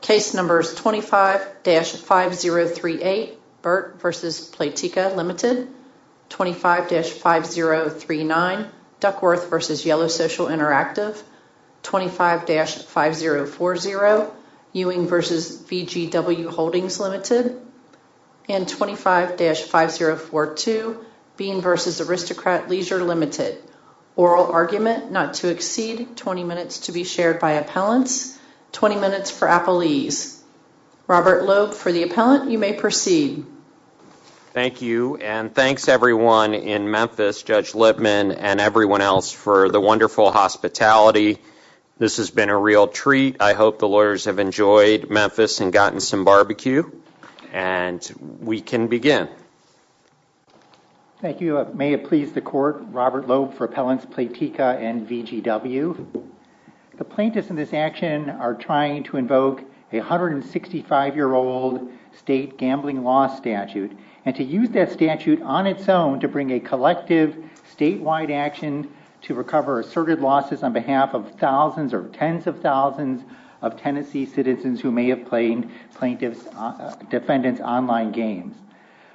Case numbers 25-5038 Burt v. Playtika Ltd, 25-5039 Duckworth v. Yellow Social Interactive, 25-5040 Ewing v. VGW Holdings Ltd, and 25-5042 Bean v. Aristocrat Leisure Ltd. Oral argument not to exceed 20 minutes to be shared by appellants. 20 minutes for appellees. Robert Loeb for the appellant. You may proceed. Thank you and thanks everyone in Memphis, Judge Lipman and everyone else for the wonderful hospitality. This has been a real treat. I hope the lawyers have enjoyed Memphis and gotten some barbecue and we can begin. Thank you. May it be so. My name is Robert Loeb for appellants Playtika and VGW. The plaintiffs in this action are trying to invoke a 165-year-old state gambling loss statute and to use that statute on its own to bring a collective statewide action to recover asserted losses on behalf of thousands or tens of thousands of Tennessee citizens who may have played plaintiff's defendant's online games,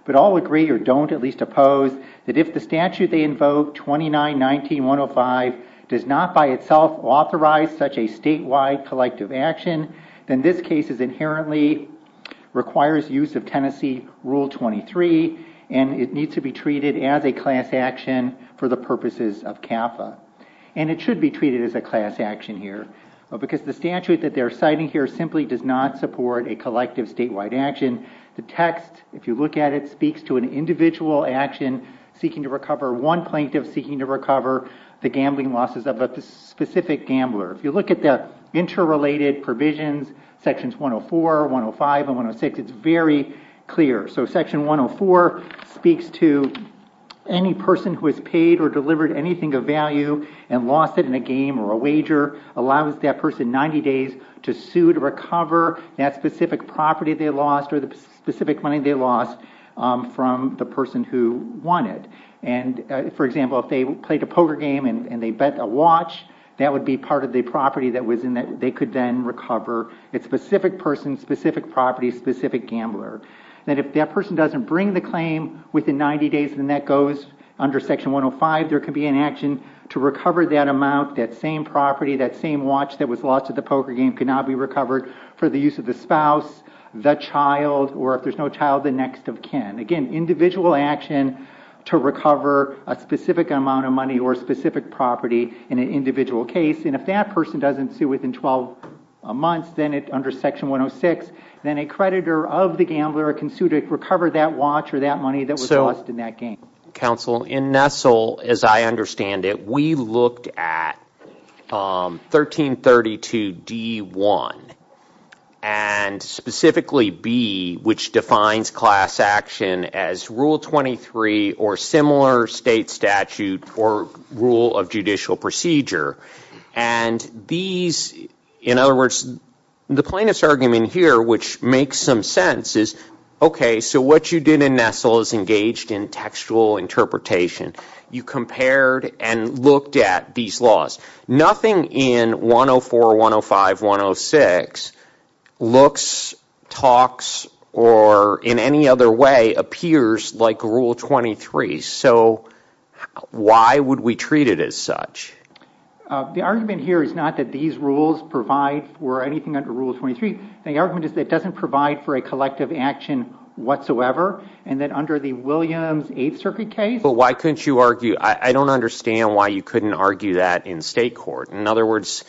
but all agree or don't at least oppose that if the statute they invoke, 29-19-105, does not by itself authorize such a statewide collective action, then this case is inherently requires use of Tennessee Rule 23 and it needs to be treated as a class action for the purposes of CAFA. And it should be treated as a class action here because the statute that they're citing here simply does not support a collective statewide action. The text, if you look at it, speaks to an individual action seeking to recover one plaintiff seeking to recover the gambling losses of a specific gambler. If you look at the interrelated provisions, sections 104, 105 and 106, it's very clear. So section 104 speaks to any person who has paid or delivered anything of value and lost it in a game or a wager, allows that person 90 days to sue to recover that specific property they lost or the specific money they lost from the person who won it. And for example, if they played a poker game and they bet a watch, that would be part of the property that they could then recover. It's specific person, specific property, specific gambler. And if that person doesn't bring the claim within 90 days and that goes under section 105, there could be an action to recover that amount, that same property, that same watch that was lost at the poker game could not be recovered for the use of the spouse, the child, or if there's no child, the next of kin. Again, individual action to recover a specific amount of money or specific property in an individual case. And if that person doesn't sue within 12 months, then under section 106, then a creditor of the gambler can sue to recover that watch or that money that was lost in that game. So, counsel, in Nestle, as I understand it, we looked at 1332 D.1 and specifically B, which defines class action as rule 23 or similar state statute or rule of judicial procedure. And these, in other words, the plaintiff's argument here, which makes some sense, is okay, so what you did in Nestle is engaged in textual interpretation. You compared and looked at these laws. Nothing in 104, 105, 106 looks, talks, or in any other way appears like rule 23. So why would we treat it as such? The argument here is not that these rules provide for anything under rule 23. The argument is that it doesn't provide for a collective action whatsoever and that under the Williams Eighth Circuit case. But why couldn't you argue, I don't understand why you couldn't argue that in state court. In other words,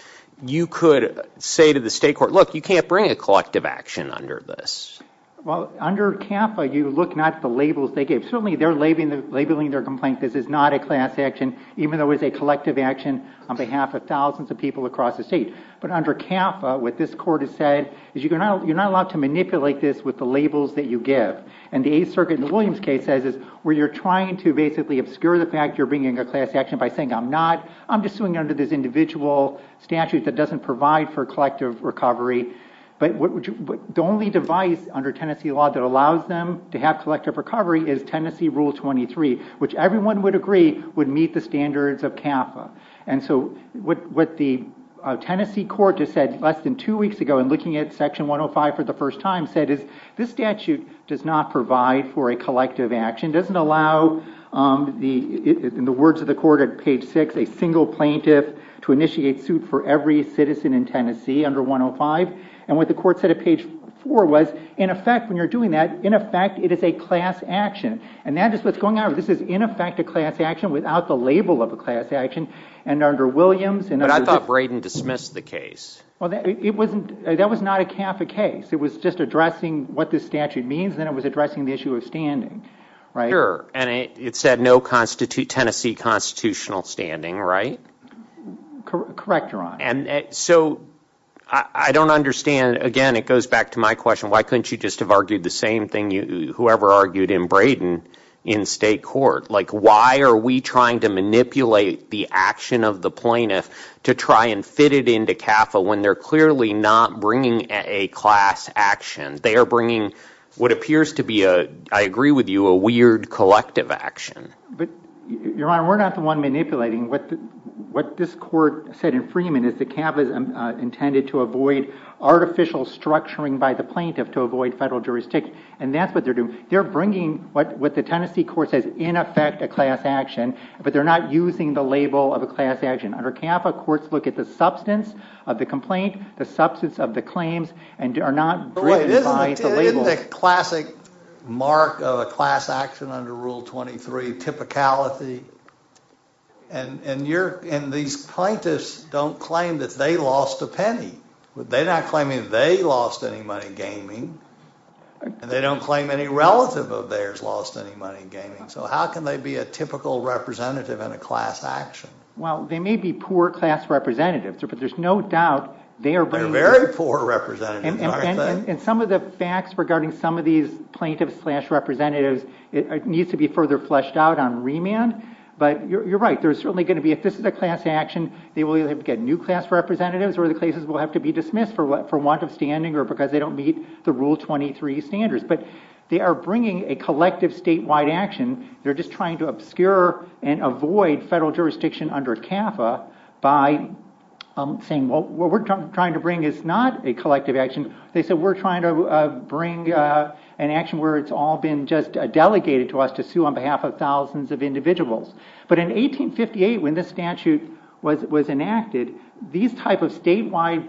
you could say to the state court, look, you can't bring a collective action under this. Well, under CAFA, you look not at the labels they gave. Certainly, they're labeling their complaint, this is not a class action, even though it's a collective action on behalf of thousands of people across the state. But under CAFA, what this court has said is you're not allowed to manipulate this with the labels that you give. And the Eighth Circuit in the Williams case says where you're trying to basically obscure the fact you're bringing a class action by saying I'm not, I'm just suing under this individual statute that doesn't provide for collective recovery. But the only device under Tennessee law that allows them to have collective recovery is Tennessee rule 23, which everyone would agree would meet the standards of CAFA. And so what Tennessee court just said less than two weeks ago in looking at section 105 for the first time said is this statute does not provide for a collective action, doesn't allow, in the words of the court at page six, a single plaintiff to initiate suit for every citizen in Tennessee under 105. And what the court said at page four was, in effect, when you're doing that, in effect, it is a class action. And that is what's going on. This is, in effect, a class action without the label of a class action. And under Williams. But I thought Braden dismissed the case. Well, it wasn't, that was not a CAFA case. It was just addressing what this statute means, then it was addressing the issue of standing, right? Sure. And it said no Tennessee constitutional standing, right? Correct, Your Honor. And so I don't understand, again, it goes back to my question, why couldn't you just have argued the same thing, whoever argued in Braden in state court? Like, why are we trying to manipulate the action of the plaintiff to try and fit it into CAFA when they're clearly not bringing a class action? They are bringing what appears to be a, I agree with you, a weird collective action. But, Your Honor, we're not the one manipulating. What this court said in Freeman is that CAFA is intended to avoid artificial structuring by the plaintiff to avoid federal jurisdiction. And that's what they're doing. They're bringing what the Tennessee court says, in effect, a class action, but they're not using the label of a class action. Under CAFA, courts look at the substance of the complaint, the substance of the claims, and are not driven by the label. Isn't that a classic mark of a class action under Rule 23, typicality? And these plaintiffs don't claim that they lost a penny. They're not claiming they lost any money gaming. And they don't claim any relative of theirs lost any money gaming. So how can they be a typical representative in a class action? Well, they may be poor class representatives, but there's no doubt they are bringing... They're very poor representatives, aren't they? And some of the facts regarding some of these plaintiffs slash representatives, it needs to be further fleshed out on remand. But you're right. There's certainly going to be, if this is a class action, they will either get new class representatives or the cases will have to be Rule 23 standards. But they are bringing a collective statewide action. They're just trying to obscure and avoid federal jurisdiction under CAFA by saying, well, what we're trying to bring is not a collective action. They said, we're trying to bring an action where it's all been just delegated to us to sue on behalf of thousands of individuals. But in 1858, when this statute was enacted, these type of statewide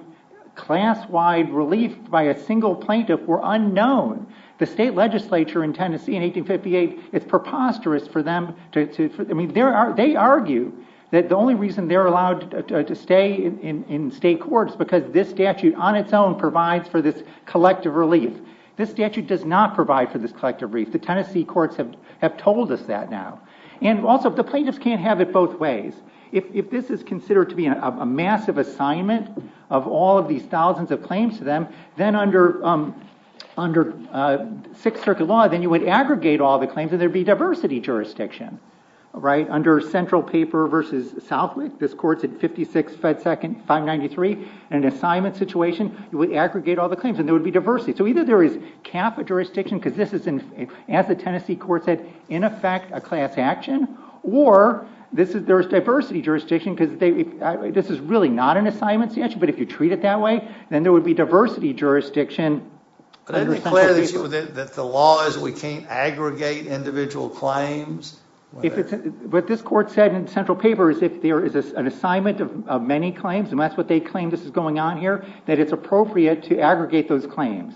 class wide relief by a single plaintiff were unknown. The state legislature in Tennessee in 1858, it's preposterous for them to... I mean, there are... They argue that the only reason they're allowed to stay in state courts because this statute on its own provides for this collective relief. This statute does not provide for this collective relief. The Tennessee courts have told us that now. And also, the plaintiffs can't have it both ways. If this is considered to be a massive assignment of all of these thousands of claims to them, then under Sixth Circuit law, then you would aggregate all the claims and there'd be diversity jurisdiction, right? Under central paper versus Southwick, this court's at 56 FedSec 593. In an assignment situation, you would aggregate all the claims and there would be diversity. So either there is CAFA jurisdiction, because this is, as the Tennessee court said, in effect, a class action, or there's diversity jurisdiction, because this is really not an assignment statute, but if you treat it that way, then there would be diversity jurisdiction. But isn't it clear that the law is we can't aggregate individual claims? What this court said in central paper is if there is an assignment of many claims, and that's what they claim this is going on here, that it's appropriate to aggregate those claims.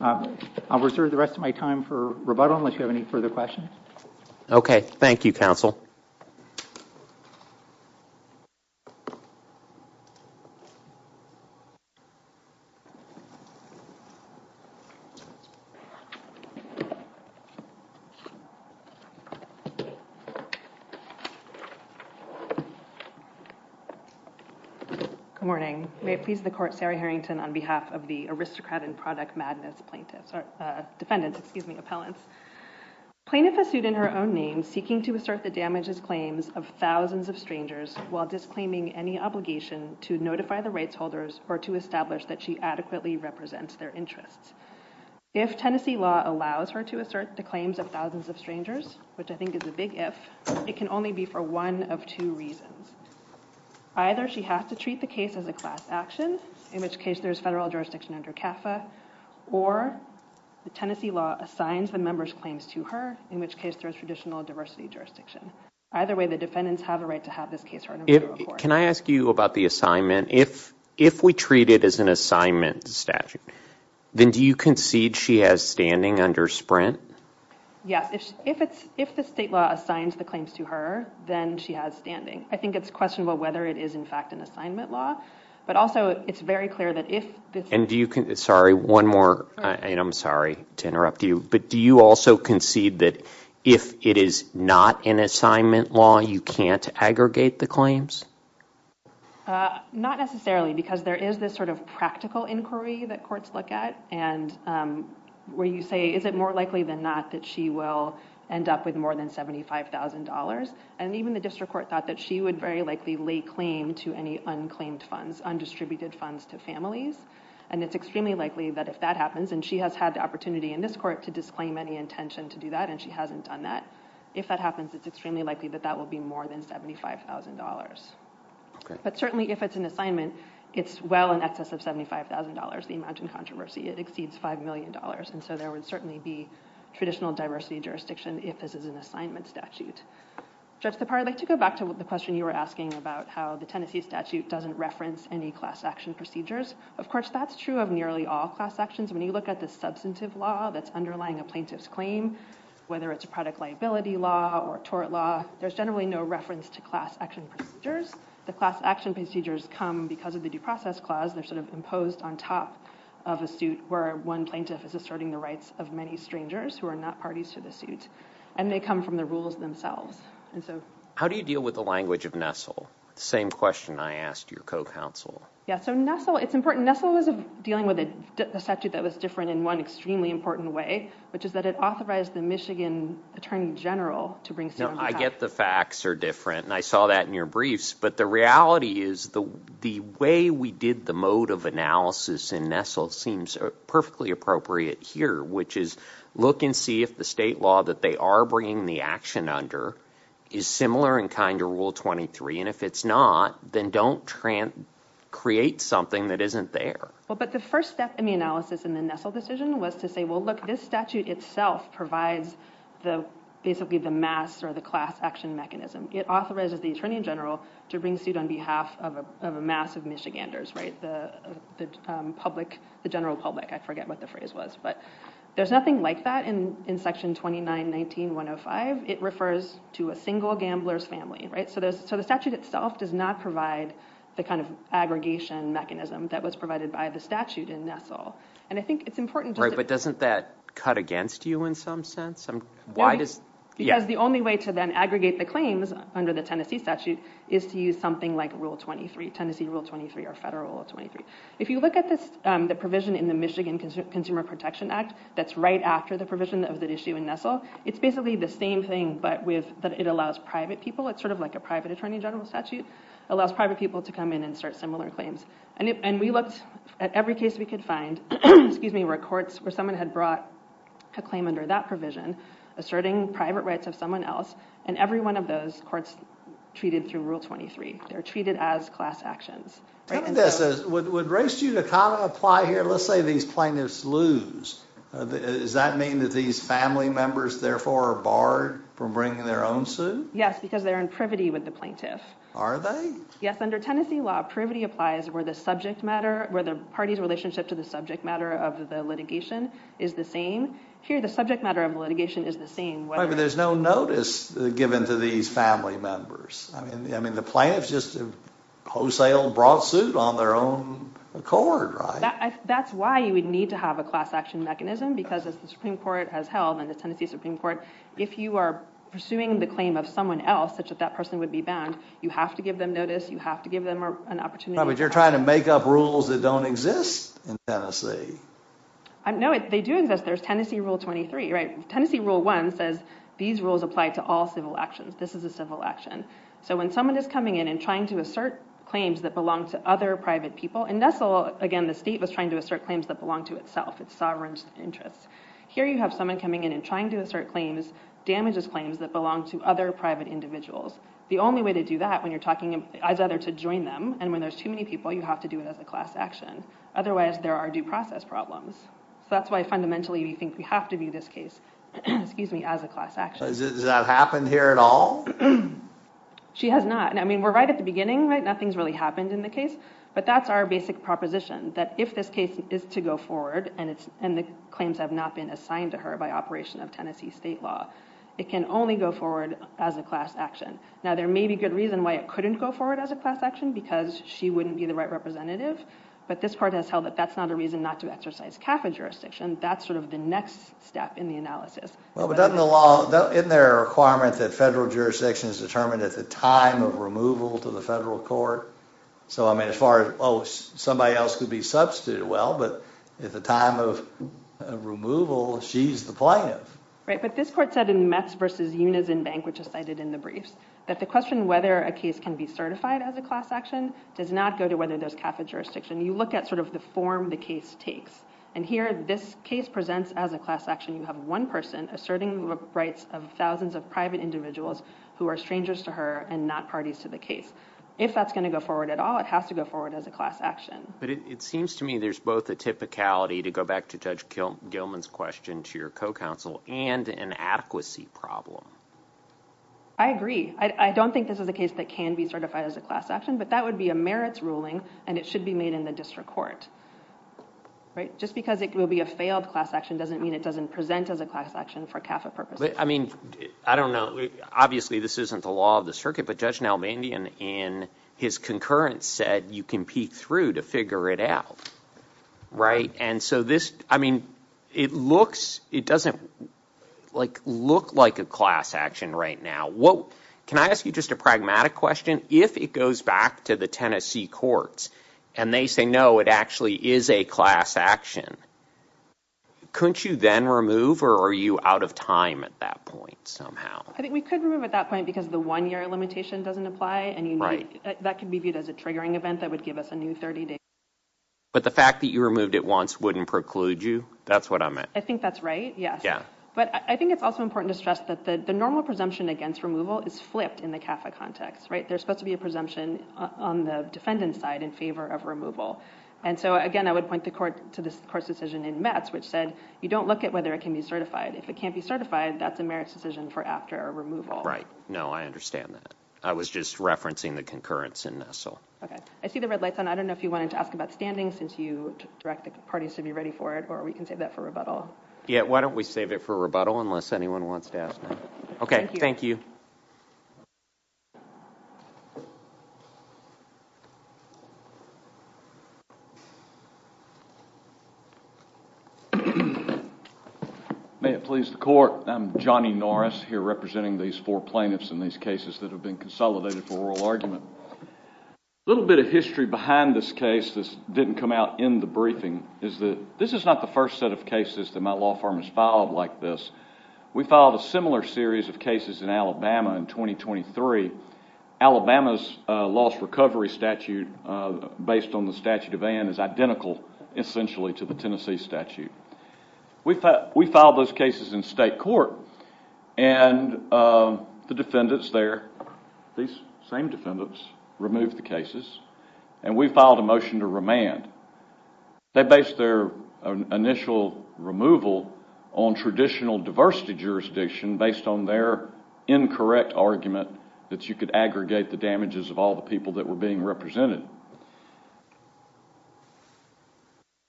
I'll reserve the rest of my time for rebuttal, unless you have any further questions. Okay, thank you, counsel. Good morning. May it please the court, Sarah Harrington, on behalf of the Aristocrat and Product Madness plaintiffs, or defendants, excuse me, appellants. Plaintiff is sued in her own name, seeking to assert the damages claims of thousands of strangers while disclaiming any obligation to notify the rights holders or to establish that she adequately represents their interests. If Tennessee law allows her to assert the claims of thousands of strangers, which I think is a big if, it can only be for one of two reasons. Either she has to treat the case as a class action, in which case there's federal jurisdiction under CAFA, or the Tennessee law assigns the member's claims to her, in which case there's traditional diversity jurisdiction. Either way, the defendants have a right to have this case heard. Can I ask you about the assignment? If we treat it as an assignment statute, then do you concede she has standing under Sprint? Yes, if the state law assigns the claims to her, then she has standing. I think it's questionable whether it is in fact an assignment law, but also it's very clear that if this... Sorry, one more, and I'm sorry to interrupt you, but do you also concede that if it is not an assignment law, you can't aggregate the claims? Not necessarily, because there is this sort of practical inquiry that courts look at, and where you say, is it more likely than not that she will end up with more than $75,000? And even the district court thought that she would very likely lay claim to any unclaimed funds, undistributed funds to families, and it's extremely likely that if that happens, and she has had the opportunity in this court to disclaim any intention to do that, and she hasn't done that, if that happens, it's extremely likely that that will be more than $75,000. But certainly, if it's an assignment, it's well in excess of $75,000, the amount in controversy. It exceeds $5 million, and so there would certainly be traditional diversity jurisdiction if this is an assignment statute. Judge Lepar, I'd like to go back to the question you were asking about how the Tennessee statute doesn't reference any class action procedures. Of course, that's true of nearly all class actions. When you look at the substantive law that's underlying a plaintiff's claim, whether it's a product liability law or tort law, there's generally no reference to class action procedures. The class action procedures come because of the due process clause. They're sort of imposed on top of a suit where one plaintiff is asserting the rights of many strangers who are not parties to the suit, and they come from the themselves. How do you deal with the language of NESTLE? The same question I asked your co-counsel. Yeah, so NESTLE, it's important. NESTLE was dealing with a statute that was different in one extremely important way, which is that it authorized the Michigan Attorney General to bring No, I get the facts are different, and I saw that in your briefs, but the reality is the way we did the mode of analysis in NESTLE seems perfectly appropriate here, which is look and see if the law that they are bringing the action under is similar in kind to rule 23, and if it's not, then don't create something that isn't there. Well, but the first step in the analysis in the NESTLE decision was to say, well, look, this statute itself provides basically the mass or the class action mechanism. It authorizes the attorney general to bring suit on behalf of a mass of Michiganders, right? The general public. I forget what the phrase was, but there's nothing like that in section 29-19-105. It refers to a single gambler's family, right? So the statute itself does not provide the kind of aggregation mechanism that was provided by the statute in NESTLE, and I think it's important. Right, but doesn't that cut against you in some sense? Because the only way to then aggregate the claims under the Tennessee statute is to use something like rule 23, Tennessee rule 23 or federal rule 23. If you look at the provision in the Michigan Consumer Protection Act that's right after the provision of that issue in NESTLE, it's basically the same thing, but it allows private people. It's sort of like a private attorney general statute. It allows private people to come in and start similar claims, and we looked at every case we could find, excuse me, where courts, where someone had brought a claim under that provision asserting private rights of someone else, and every one of those courts treated through rule 23. They're treated as class actions. Tell me this, would race you kind of apply here? Let's say these plaintiffs lose. Does that mean that these family members therefore are barred from bringing their own suit? Yes, because they're in privity with the plaintiff. Are they? Yes, under Tennessee law, privity applies where the subject matter, where the party's relationship to the subject matter of the litigation is the same. Here, the subject matter of litigation is the same. Right, but there's no notice given to these family members. I mean, the plaintiffs just wholesale brought suit on their own accord, right? That's why you would need to have a class action mechanism, because as the Supreme Court has held, and the Tennessee Supreme Court, if you are pursuing the claim of someone else such that that person would be bound, you have to give them notice. You have to give them an opportunity. But you're trying to make up rules that don't exist in Tennessee. No, they do exist. There's Tennessee Rule 23, right? Tennessee Rule 1 says these rules apply to all civil actions. This is a civil action. So when someone is coming in and trying to assert claims that belong to other private people, in Nestle, again, the state was trying to assert claims that belong to itself, its sovereign interests. Here, you have someone coming in and trying to assert claims, damages claims that belong to other private individuals. The only way to do that when you're talking as either to join them, and when there's too many people, you have to do it as a class action. Otherwise, there are due process problems. So that's why fundamentally, we think we have to do this case, excuse me, as a class action. Does that happen here at all? She has not. And I mean, we're right at the beginning, right? Nothing's really happened in the case. But that's our basic proposition, that if this case is to go forward, and the claims have not been assigned to her by operation of Tennessee state law, it can only go forward as a class action. Now, there may be good reason why it couldn't go forward as a class action, because she wouldn't be the right representative. But this part has held that that's not a reason not to exercise CAFA jurisdiction. That's sort of the next step in the analysis. Well, but doesn't the law, isn't there a requirement that federal jurisdiction is determined at the time of removal to the federal court? So I mean, as far as, oh, somebody else could be substituted, well, but at the time of removal, she's the plaintiff. Right. But this court said in Metz v. Unizin Bank, which is cited in the briefs, that the question whether a case can be certified as a class action does not go to whether there's CAFA jurisdiction. You look at sort of the form the case takes. And here, this case presents as a class action. You have one person asserting the rights of thousands of private individuals who are strangers to her and not parties to the case. If that's going to go forward at all, it has to go forward as a class action. But it seems to me there's both the typicality to go back to Judge Gilman's question to your co-counsel and an adequacy problem. I agree. I don't think this is a case that can be certified as a class action, but that would be a merits ruling, and it should be made in the district court. Right. Just because it will be a failed class action doesn't mean it doesn't present as a class action for CAFA purposes. I mean, I don't know. Obviously, this isn't the law of the circuit, but Judge Nalbandian in his concurrence said you can peek through to figure it out. Right. And so this, I mean, it looks, it doesn't look like a class action right now. Can I ask you just a pragmatic question? If it goes back to the Tennessee courts and they say, no, it actually is a class action, couldn't you then remove or are you out of time at that point somehow? I think we could remove at that point because the one-year limitation doesn't apply, and that can be viewed as a triggering event that would give us a new 30 days. But the fact that you removed it once wouldn't preclude you? That's what I meant. I think that's right, yes. But I think it's also important to stress that the normal presumption against removal is flipped in the CAFA context, right? There's supposed to be a presumption on the defendant's side in favor of removal. And so, again, I would point the court to this court's decision in Metz, which said you don't look at whether it can be certified. If it can't be certified, that's a merits decision for after removal. Right. No, I understand that. I was just referencing the concurrence in Nestle. Okay. I see the red lights on. I don't know if you wanted to ask about standing since you direct the parties to be ready for it, or we can save that for rebuttal. Yeah. Why don't we save it for rebuttal unless anyone wants to ask now? Okay. Thank you. May it please the court. I'm Johnny Norris here representing these four plaintiffs in these cases that have been consolidated for oral argument. A little bit of history behind this case that didn't come out in the briefing is that this is not the first set of cases that my law firm has filed like this. We filed a similar series of cases in Alabama in 2023. Alabama's lost recovery statute based on the statute of Ann is identical essentially to the Tennessee statute. We filed those cases in state court, and the defendants there, these same defendants, removed the cases, and we filed a motion to remand. They based their initial removal on traditional diversity jurisdiction based on their incorrect argument that you could aggregate the damages of all the people that were being represented.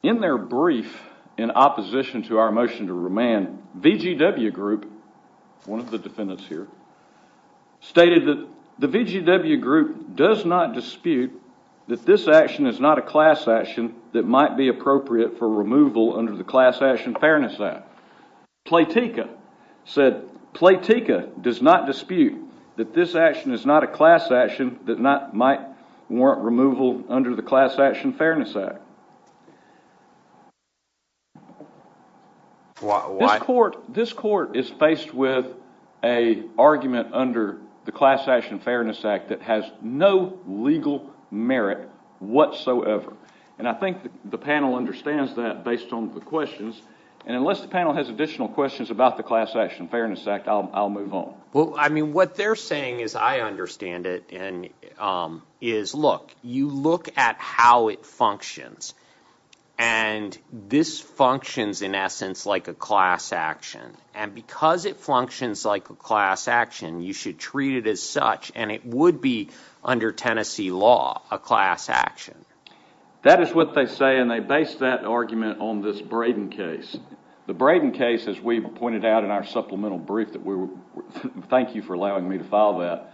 In their brief in opposition to our motion to remand, VGW group, one of the defendants here, stated that the VGW group does not dispute that this action is not a class action that might be appropriate for removal under the Class Action Fairness Act. Platika said Platika does not dispute that this action is not a class action that might warrant removal under the Class Action Fairness Act. This court is faced with an argument under the Class Action Fairness Act that has no legal merit whatsoever, and I think the panel understands that based on the questions, and unless the panel has additional questions about the Class Action Fairness Act, I'll move on. Well, I mean, what they're saying, as I understand it, is, look, you look at how it functions, and this functions, in essence, like a class action, and because it functions like a class action, you should treat it as such, and it would be, under Tennessee law, a class action. That is what they say, and they base that argument on this Braden case. The Braden case, as we pointed out in our supplemental brief that we were, thank you for allowing me to file that,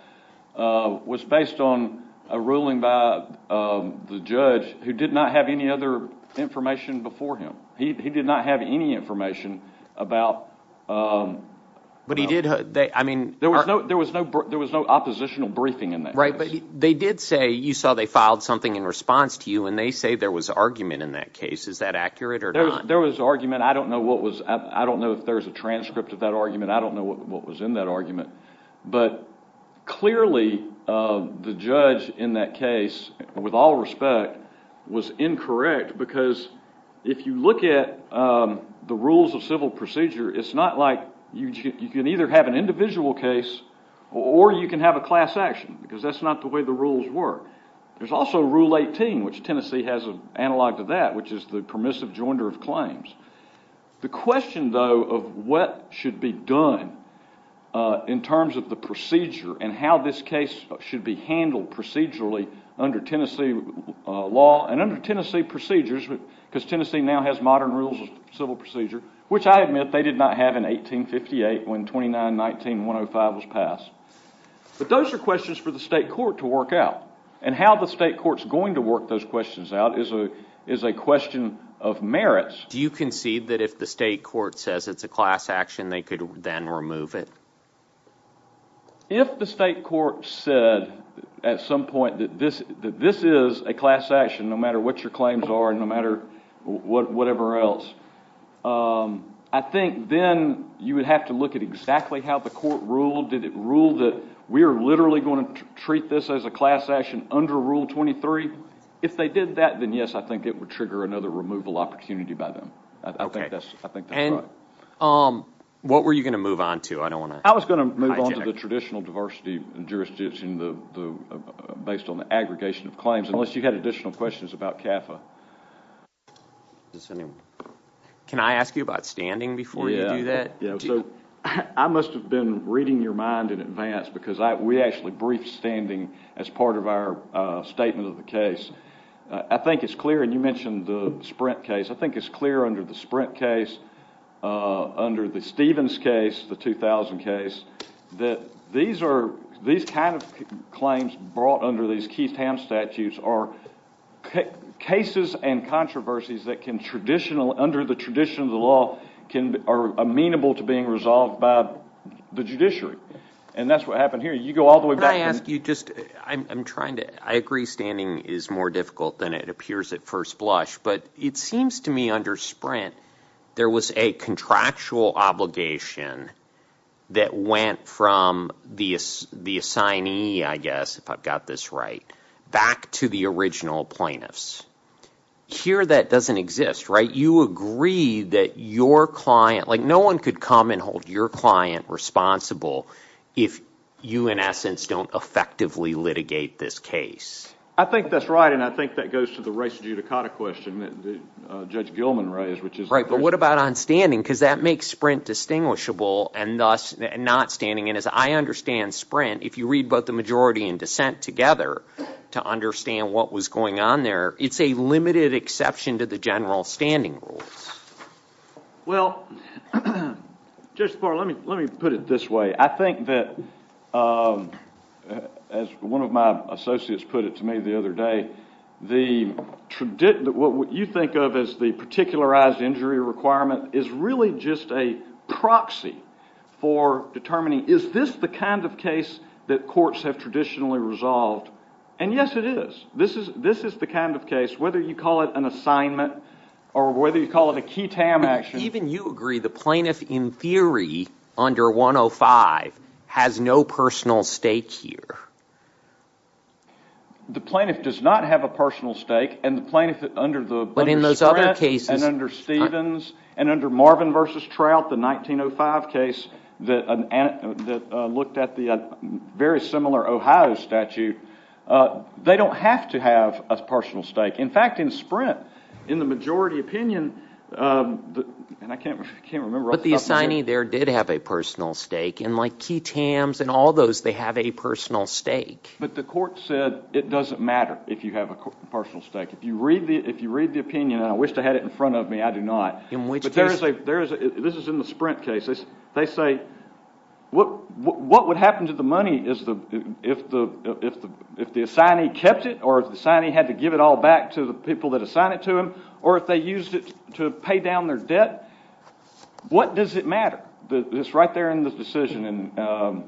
was based on a ruling by the judge who did not have any other information before him. He did not have any information about... But he did, I mean... There was no oppositional briefing in that case. Right, but they did say, you saw they filed something in response to you, and they say there was argument in that case. Is that accurate or not? There was argument. I don't know if there's a transcript of that argument. I don't know what was in that argument, but clearly the judge in that case, with all respect, was incorrect, because if you look at the rules of civil procedure, it's not like you can either have an individual case or you can have a class action, because that's not the way the rules work. There's also Rule 18, which Tennessee has analog to that, which is the permissive joinder of claims. The question, though, of what should be done in terms of the procedure and how this case should be handled procedurally under Tennessee law and under Tennessee procedures, because Tennessee now has modern rules of civil procedure, which I admit they did not have in 1858 when 29-19-105 was passed. But those are questions for the state court to work out, and how the state court's going to work those questions out is a question of merits. Do you concede that if the state court says it's a class action, they could then remove it? If the state court said at some point that this is a class action, no matter what your claims are and no matter whatever else, I think then you would have to look at exactly how the court ruled. Did it rule that we are literally going to treat this as a class action? Yes, I think it would trigger another removal opportunity by them. I think that's right. What were you going to move on to? I was going to move on to the traditional diversity jurisdiction based on the aggregation of claims, unless you had additional questions about CAFA. Can I ask you about standing before you do that? I must have been reading your mind in advance because we actually briefed standing as part of our statement of the case. I think it's clear, and you mentioned the Sprint case, I think it's clear under the Sprint case, under the Stevens case, the 2000 case, that these kind of claims brought under these Keith-Ham statutes are cases and controversies that, under the tradition of the law, are amenable to being resolved by the judiciary. That's what happened here. You go all the way back. I agree standing is more difficult than it appears at first blush, but it seems to me under Sprint, there was a contractual obligation that went from the assignee, I guess, if I've got this right, back to the original plaintiffs. Here that doesn't exist, right? You agree that your client, no one could come and hold your client responsible if you, in essence, don't effectively litigate this case. I think that's right, and I think that goes to the race judicata question that Judge Gilman raised. Right, but what about on standing? Because that makes Sprint distinguishable and thus not standing, and as I understand Sprint, if you read both the majority and dissent together to understand what was going on there, it's a limited exception to the general standing rules. Well, Judge Sparrow, let me put it this way. I think that, as one of my associates put it to me the other day, what you think of as the particularized injury requirement is really just a proxy for determining, is this the kind of case that courts have traditionally resolved? And yes, it is. This is the kind of case, whether you call it an assignment or whether you call it a key-tam action. Even you agree the plaintiff, in theory, under 105, has no personal stake here. The plaintiff does not have a personal stake, and the plaintiff under Sprint and under Stevens and under Marvin v. Trout, the 1905 case that looked at the very similar Ohio statute, they don't have to have a personal stake. In fact, in Sprint, in the majority opinion, and I can't remember off the top of my head. But the assignee there did have a personal stake, and like key-tams and all those, they have a personal stake. But the court said it doesn't matter if you have a personal stake. If you read the opinion, and I wish to have it in front of me, I do not. But this is in the Sprint case. They say, what would happen to the money if the assignee kept it or if the assignee had to give it all back to the people that assigned it to him or if they used it to pay down their debt? What does it matter? It's right there in the decision, and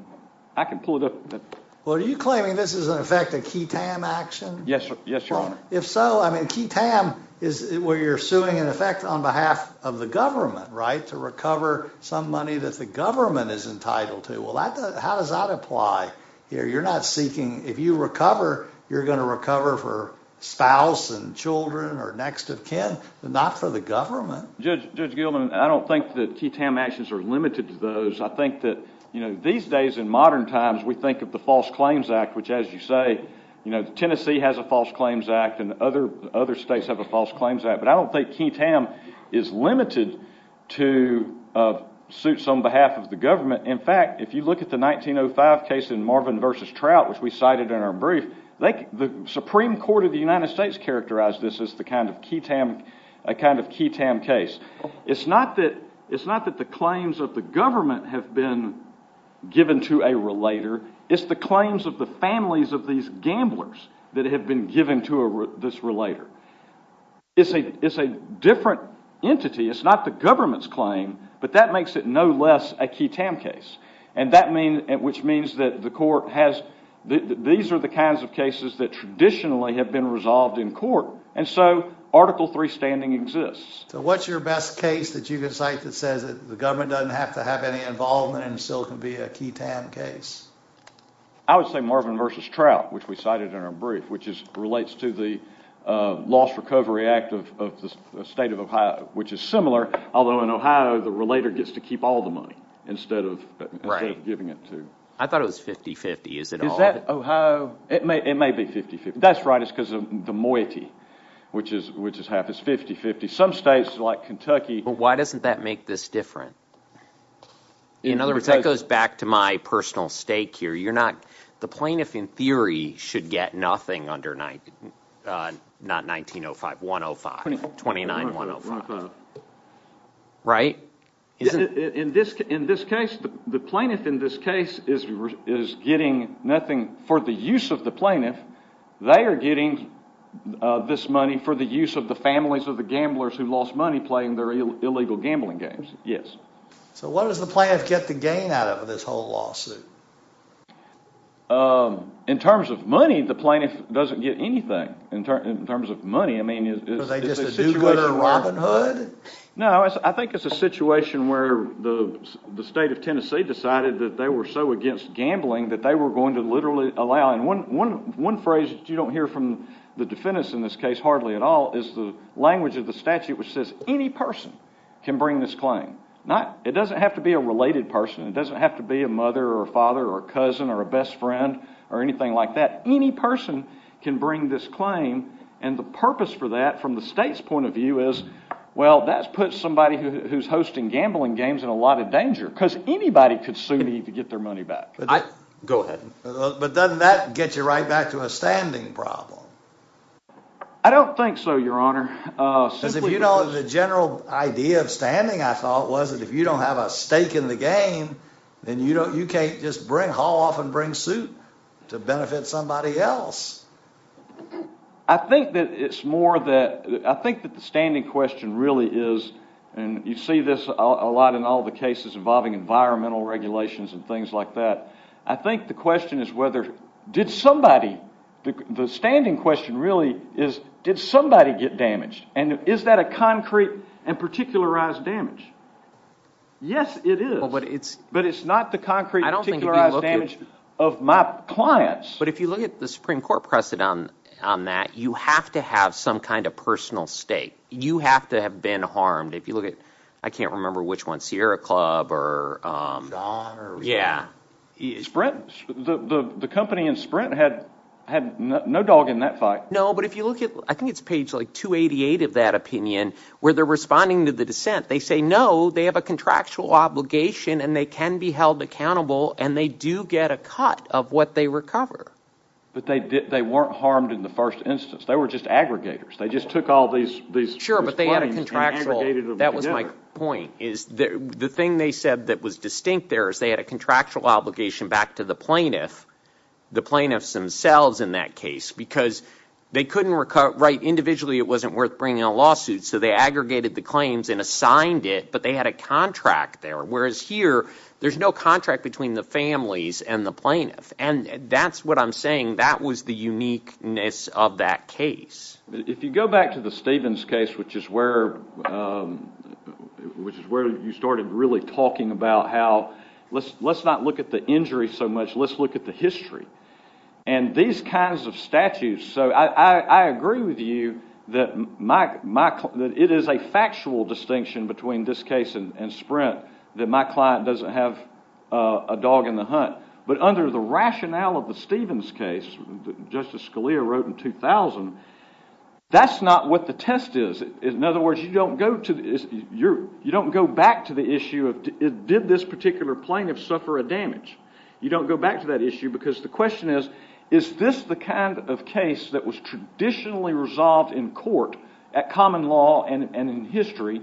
I can pull it up. Well, are you claiming this is, in effect, a key-tam action? Yes, Your Honor. If so, I mean, key-tam is where you're suing, in effect, on behalf of the government, right, to recover some money that the government is entitled to. Well, how does that apply here? You're not seeking, if you recover, you're going to recover for spouse and children or next of kin, not for the government. Judge Gilman, I don't think that key-tam actions are limited to those. I think that, you know, these days in modern times, we think of the False Claims Act, which, as you say, you know, Tennessee has a False Claims Act and other states have a False Claims Act. But I don't think key-tam is limited to suits on behalf of the government. In fact, if you look at the 1905 case in Marvin v. Trout, which we cited in our brief, the Supreme Court of the United States characterized this as the kind of key-tam case. It's not that the claims of the government have been given to a relator. It's the claims of the families of these gamblers that have been given to this relator. It's a different entity. It's not the government's claim, but that makes it no less a key-tam case, which means that the Supreme Court, these are the kinds of cases that traditionally have been resolved in court, and so Article III standing exists. So what's your best case that you can cite that says the government doesn't have to have any involvement and still can be a key-tam case? I would say Marvin v. Trout, which we cited in our brief, which relates to the Lost Recovery Act of the state of Ohio, which is similar, although in Ohio, the relator gets to keep all the money instead of giving it to... I thought it was 50-50. Is it all? It may be 50-50. That's right, it's because of the moiety, which is half as 50-50. Some states like Kentucky... But why doesn't that make this different? In other words, that goes back to my personal stake here. The plaintiff, in theory, should get nothing under not 1905, 105, 29105, right? In this case, the plaintiff in this case is getting nothing for the use of the plaintiff. They are getting this money for the use of the families of the gamblers who lost money playing their illegal gambling games, yes. So what does the plaintiff get the gain out of this whole lawsuit? In terms of money, the plaintiff doesn't get anything. In terms of money, I mean, it's a situation where... Is it just a do-gooder Robin Hood? No, I think it's a situation where the state of Tennessee decided that they were so against gambling that they were going to literally allow... And one phrase you don't hear from the defendants in this case, hardly at all, is the language of the statute, which says any person can bring this claim. It doesn't have to be a related person. It doesn't have to be a mother or a father or a cousin or a best friend or anything like that. Any person can bring this claim. And the purpose for that from the state's point of view is, well, that's put somebody who's hosting gambling games in a lot of danger because anybody could soon need to get their money back. Go ahead. But doesn't that get you right back to a standing problem? I don't think so, Your Honor. Because if you know the general idea of standing, I thought, was that if you don't have a stake in the game, then you can't just haul off and bring suit to benefit somebody else. I think that it's more that... I think that the standing question really is... And you see this a lot in all the cases involving environmental regulations and things like that. I think the question is whether... Did somebody... The standing question really is, did somebody get damaged? And is that a concrete and particularized damage? Yes, it is. But it's not the concrete and particularized damage of my clients. But if you look at the Supreme Court precedent on that, you have to have some kind of personal stake. You have to have been harmed. If you look at... I can't remember which one, Sierra Club or... The company in Sprint had no dog in that fight. No, but if you look at... I think it's page like 288 of that opinion, where they're responding to the dissent. They say, no, they have a contractual obligation, and they can be held accountable, and they do get a cut of what they recover. But they weren't harmed in the first instance. They were just aggregators. They just took all these... Sure, but they had a contractual... That was my point, is the thing they said that was distinct there is they had a contractual obligation back to the plaintiff, the plaintiffs themselves in that case, because they couldn't write individually it wasn't worth bringing a lawsuit. So they aggregated the claims and assigned it, but they had a contract there. Whereas here, there's no contract between the families and the plaintiff. And that's what I'm saying. That was the uniqueness of that case. If you go back to the Stevens case, which is where you started really talking about how, let's not look at the injury so much. Let's look at the history. And these kinds of statutes, so I agree with you that it is a factual distinction between this case and Sprint, that my client doesn't have a dog in the hunt. But under the rationale of the Stevens case, Justice Scalia wrote in 2000, that's not what the test is. In other words, you don't go back to the issue of did this particular plaintiff suffer a damage. You don't go back to that issue because the question is, is this the kind of case that was traditionally resolved in court at common law and in history?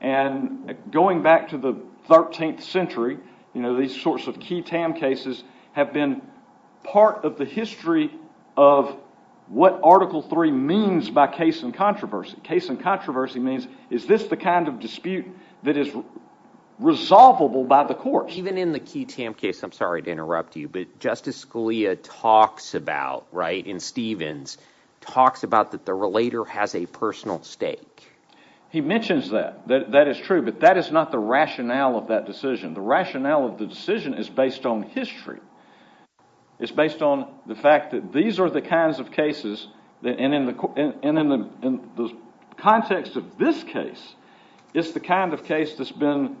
And going back to the 13th century, you know, these sorts of key TAM cases have been part of the history of what Article III means by case and controversy. Case and controversy means, is this the kind of dispute that is resolvable by the court? Even in the key TAM case, I'm sorry to interrupt you, but Justice Scalia talks about, right, in Stevens, talks about that the relator has a personal stake. He mentions that. That is true, but that is not the rationale of that decision. The rationale of the decision is based on history. It's based on the fact that these are the kinds of cases that, and in the context of this case, it's the kind of case that's been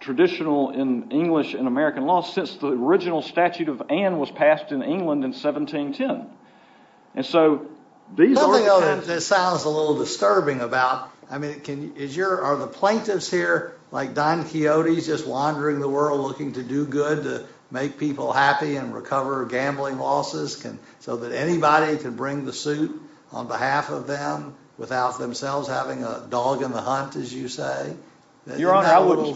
traditional in English and American law since the original statute of Ann was passed in England in 1710. And so, these are the kinds of cases— Nothing that sounds a little disturbing about, I mean, are the plaintiffs here like Don Quixote just wandering the world looking to do good, to make people happy and recover gambling losses, so that anybody can bring the suit on behalf of them without themselves having a dog in the hunt, as you say? Your Honor, I wouldn't— Isn't that a little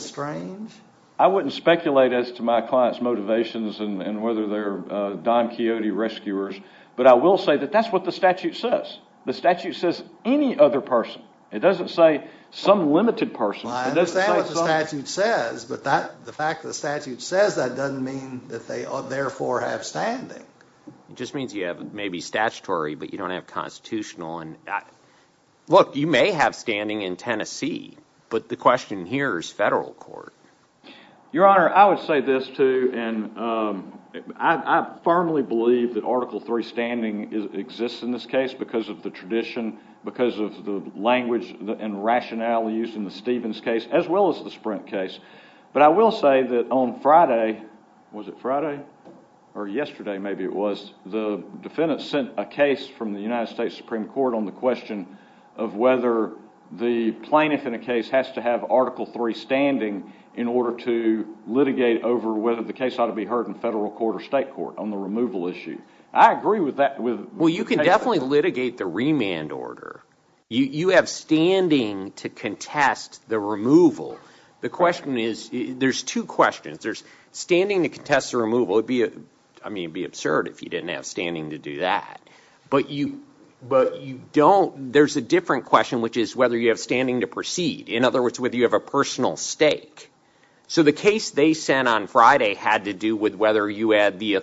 strange? I wouldn't speculate as to my client's motivations and whether they're Don Quixote rescuers, but I will say that that's what the statute says. The statute says any other person. It doesn't say some limited person. I understand what the statute says, but the fact that the statute says that doesn't mean that they therefore have standing. It just means you have maybe statutory, but you don't have constitutional. Look, you may have standing in Tennessee, but the question here is federal court. Your Honor, I would say this, too, and I firmly believe that Article III standing exists in this case because of the tradition, because of the language and rationale used in it. Yesterday, maybe it was, the defendant sent a case from the United States Supreme Court on the question of whether the plaintiff in a case has to have Article III standing in order to litigate over whether the case ought to be heard in federal court or state court on the removal issue. I agree with that. Well, you can definitely litigate the remand order. You have standing to contest the removal. The question is, there's two questions. There's standing to contest the removal. It'd be absurd if you didn't have standing to do that, but there's a different question, which is whether you have standing to proceed. In other words, whether you have a personal stake. The case they sent on Friday had to do with whether you had the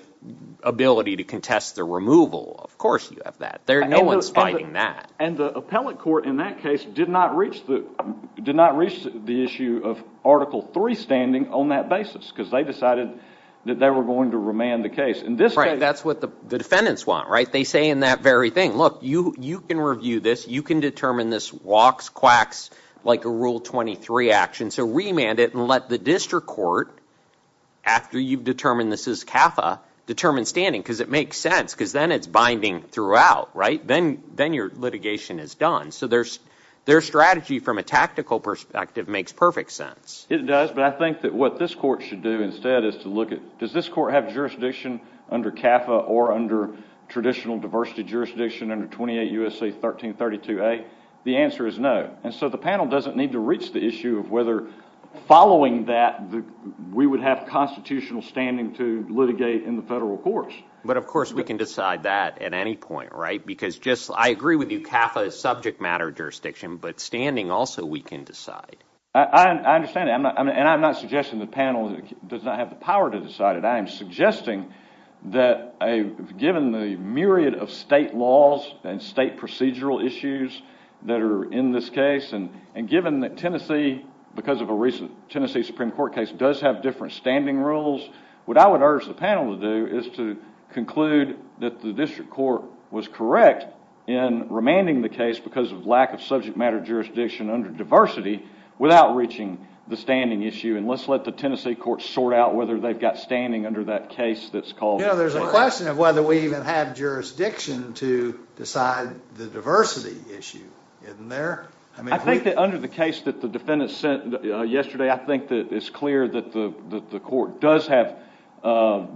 ability to contest the removal. Of course, you have that. No one's fighting that. Appellate court in that case did not reach the issue of Article III standing on that basis because they decided that they were going to remand the case. That's what the defendants want. They say in that very thing, look, you can review this. You can determine this walks, quacks, like a Rule 23 action. Remand it and let the district court, after you've determined this is CAFA, determine standing because it makes sense because then it's binding throughout. Then your litigation is done. Their strategy from a tactical perspective makes perfect sense. It does, but I think that what this court should do instead is to look at, does this court have jurisdiction under CAFA or under traditional diversity jurisdiction under 28 U.S.A. 1332A? The answer is no. The panel doesn't need to reach the issue of whether following that, we would have constitutional standing to litigate in the federal courts. But of course we can decide that at any point, right? Because just, I agree with you, CAFA is subject matter jurisdiction, but standing also we can decide. I understand that and I'm not suggesting the panel does not have the power to decide it. I am suggesting that given the myriad of state laws and state procedural issues that are in this case and given that Tennessee, because of a recent Tennessee Supreme Court case, does have different standing rules, what I would urge the panel to do is to conclude that the district court was correct in remanding the case because of lack of subject matter jurisdiction under diversity without reaching the standing issue and let's let the Tennessee court sort out whether they've got standing under that case that's called. You know, there's a question of whether we even have jurisdiction to decide the diversity issue, isn't there? I think that under the case that the district court does have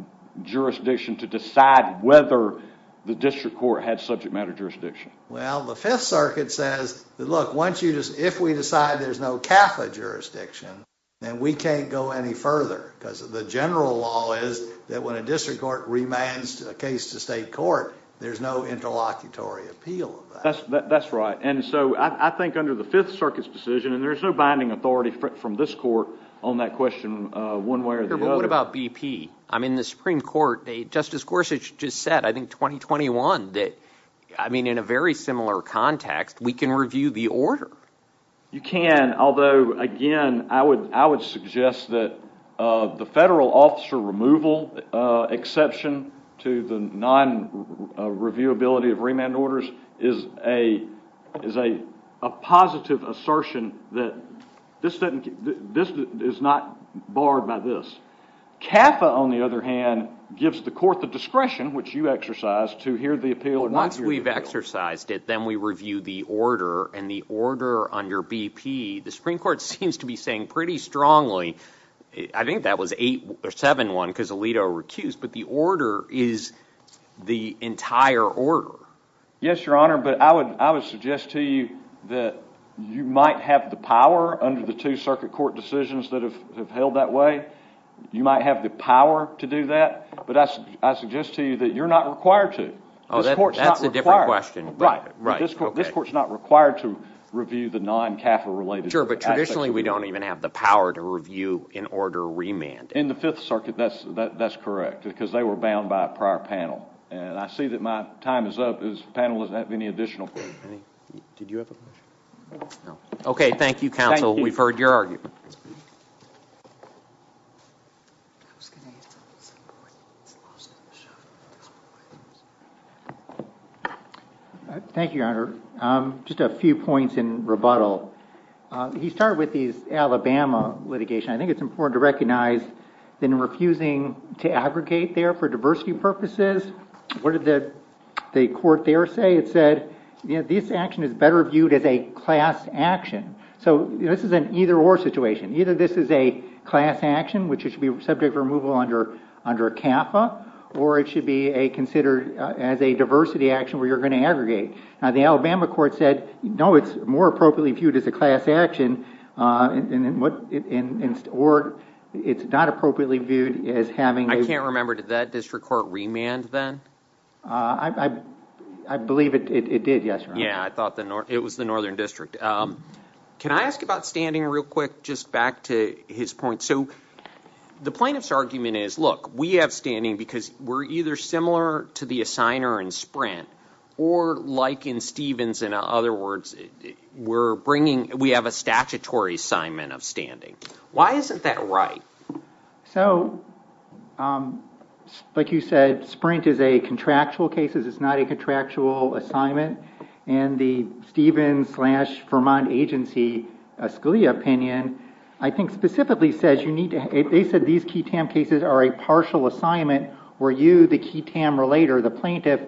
jurisdiction to decide whether the district court had subject matter jurisdiction. Well, the Fifth Circuit says that, look, once you just, if we decide there's no CAFA jurisdiction, then we can't go any further because the general law is that when a district court remands a case to state court, there's no interlocutory appeal. That's right, and so I think under the Fifth Circuit's decision, and there's no binding authority from this court on that question, one way or the other. But what about BP? I mean, the Supreme Court, Justice Gorsuch just said, I think 2021, that, I mean, in a very similar context, we can review the order. You can, although, again, I would suggest that the federal officer removal exception to the non-reviewability of remand orders is a positive assertion that this is not barred by this. CAFA, on the other hand, gives the court the discretion, which you exercise, to hear the appeal. Once we've exercised it, then we review the order, and the order under BP, the Supreme Court seems to be saying pretty strongly, I think that was 8 or 7-1 because Alito recused, but the order is the entire order. Yes, Your Honor, but I would suggest to you that you might have the power under the two circuit court decisions that have held that way. You might have the power to do that, but I suggest to you that you're not required to. Oh, that's a different question. Right, right. This court's not required to review the non-CAFA-related. Sure, but traditionally, we don't even have the power to review an order remand. In the Fifth Circuit, that's correct, because they were bound by a prior panel, and I see that my time is up. This panel doesn't have any additional questions. Did you have a question? No. Okay, thank you, counsel. Thank you. We've heard your argument. Thank you, Your Honor. Just a few points in rebuttal. He started with these Alabama litigation. I think it's important to recognize that in refusing to aggregate there for diversity purposes, what did the court there say? It said, this action is better viewed as a class action. This is an either-or situation. Either this is a class action, which it should be subject removal under CAFA, or it should be considered as a diversity action where you're going to aggregate. Now, the Alabama court said, no, it's more appropriately viewed as a class action, or it's not appropriately viewed as having... I can't remember. Did that district court remand then? I believe it did, yes, Your Honor. Yeah, it was the Northern District. Can I ask about standing real quick, just back to his point? The plaintiff's argument is, look, we have standing because we're either similar to the assigner in Sprint, or like in Stevens, in other words, we have a statutory assignment of standing. Why isn't that right? Like you said, Sprint is a contractual case. It's not a contractual assignment. The Stevens-Vermont Agency Scalia opinion, I think, specifically says you need to... They said these key TAM cases are a partial assignment where you, the key TAM relator, the plaintiff,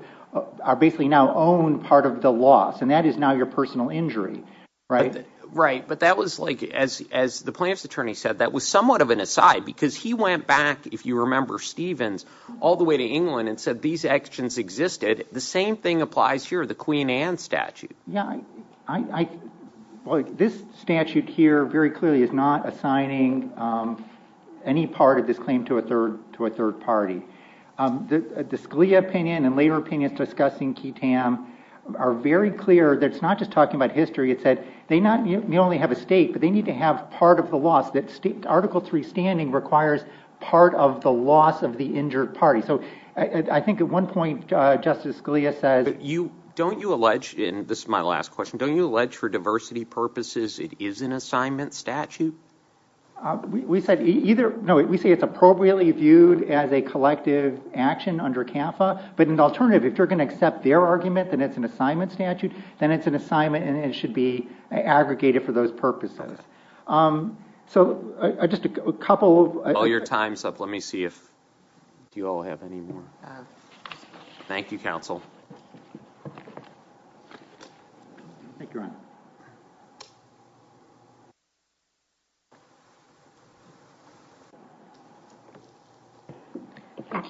are basically now owned part of the loss, and that is now your personal injury, right? Right, but that was like, as the plaintiff's attorney said, that was somewhat of an aside because he went back, if you remember Stevens, all the way to England and said these actions existed. The same thing applies here, the Queen Anne statute. Yeah, this statute here very clearly is not assigning any part of this claim to a third party. The Scalia opinion and later opinions discussing key TAM are very clear that it's not just talking about history. It said they not only have a state, but they need to have part of the loss. That article three standing requires part of the loss of the injured party. So I think at one point, Justice Scalia says... You, don't you allege, and this is my last question, don't you allege for diversity purposes it is an assignment statute? We said either, no, we say it's appropriately viewed as a collective action under CAFA, but an alternative, if you're going to accept their argument, then it's an assignment statute, then it's an assignment and it should be aggregated for those purposes. So just a couple of... Oh, your time's up. Let me see if you all have any more. Thank you, counsel. Thank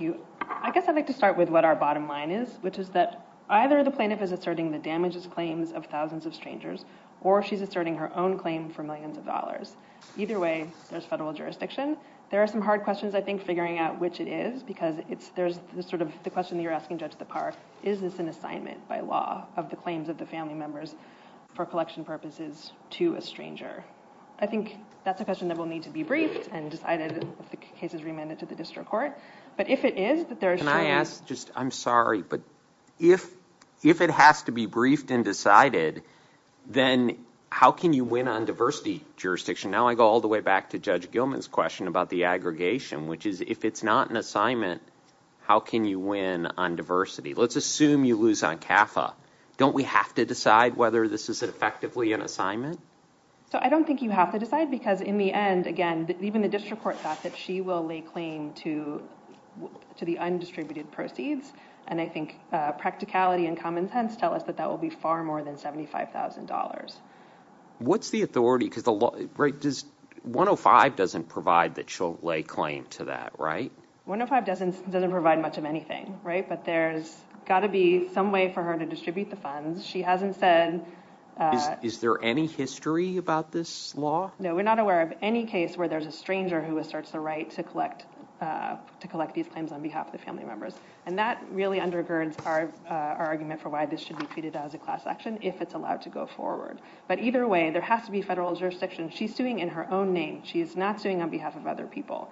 you. I guess I'd like to start with what our bottom line is, which is that either the plaintiff is asserting the damages claims of thousands of strangers, or she's asserting her own claim for millions of dollars. Either way, there's federal jurisdiction. There are some hard questions, figuring out which it is, because there's the question that you're asking, Judge Lepar, is this an assignment by law of the claims of the family members for collection purposes to a stranger? I think that's a question that will need to be briefed and decided if the case is remanded to the district court, but if it is... Can I ask, I'm sorry, but if it has to be briefed and decided, then how can you win on diversity jurisdiction? Now I go all the way back to Judge Aggregation, which is, if it's not an assignment, how can you win on diversity? Let's assume you lose on CAFA. Don't we have to decide whether this is effectively an assignment? So I don't think you have to decide, because in the end, again, even the district court thought that she will lay claim to the undistributed proceeds, and I think practicality and common sense tell us that that will be far more than $75,000. What's the authority, because the law... 105 doesn't provide that she'll lay claim to that, right? 105 doesn't provide much of anything, right? But there's got to be some way for her to distribute the funds. She hasn't said... Is there any history about this law? No, we're not aware of any case where there's a stranger who asserts the right to collect these claims on behalf of the family members, and that really undergirds our argument for why this should be treated as a class action if it's allowed to go forward. But either way, there has to be federal jurisdiction. She's suing in her own name. She is not suing on behalf of other people,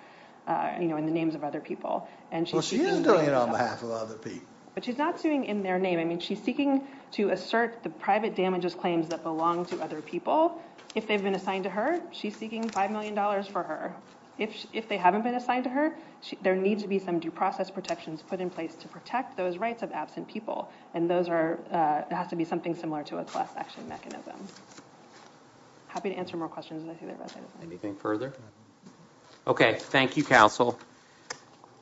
you know, in the names of other people. Well, she is doing it on behalf of other people. But she's not suing in their name. I mean, she's seeking to assert the private damages claims that belong to other people. If they've been assigned to her, she's seeking $5 million for her. If they haven't been assigned to her, there needs to be some due process protections put in place to protect those rights of absent people, and those are... It has to be something similar to a class action mechanism. Happy to answer more questions. Anything further? Okay, thank you, counsel.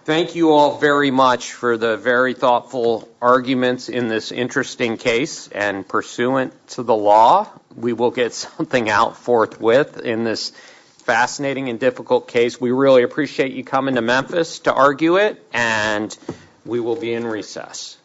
Thank you all very much for the very thoughtful arguments in this interesting case, and pursuant to the law, we will get something out forthwith in this fascinating and difficult case. We really appreciate you coming to Memphis to argue it, and we will be in recess.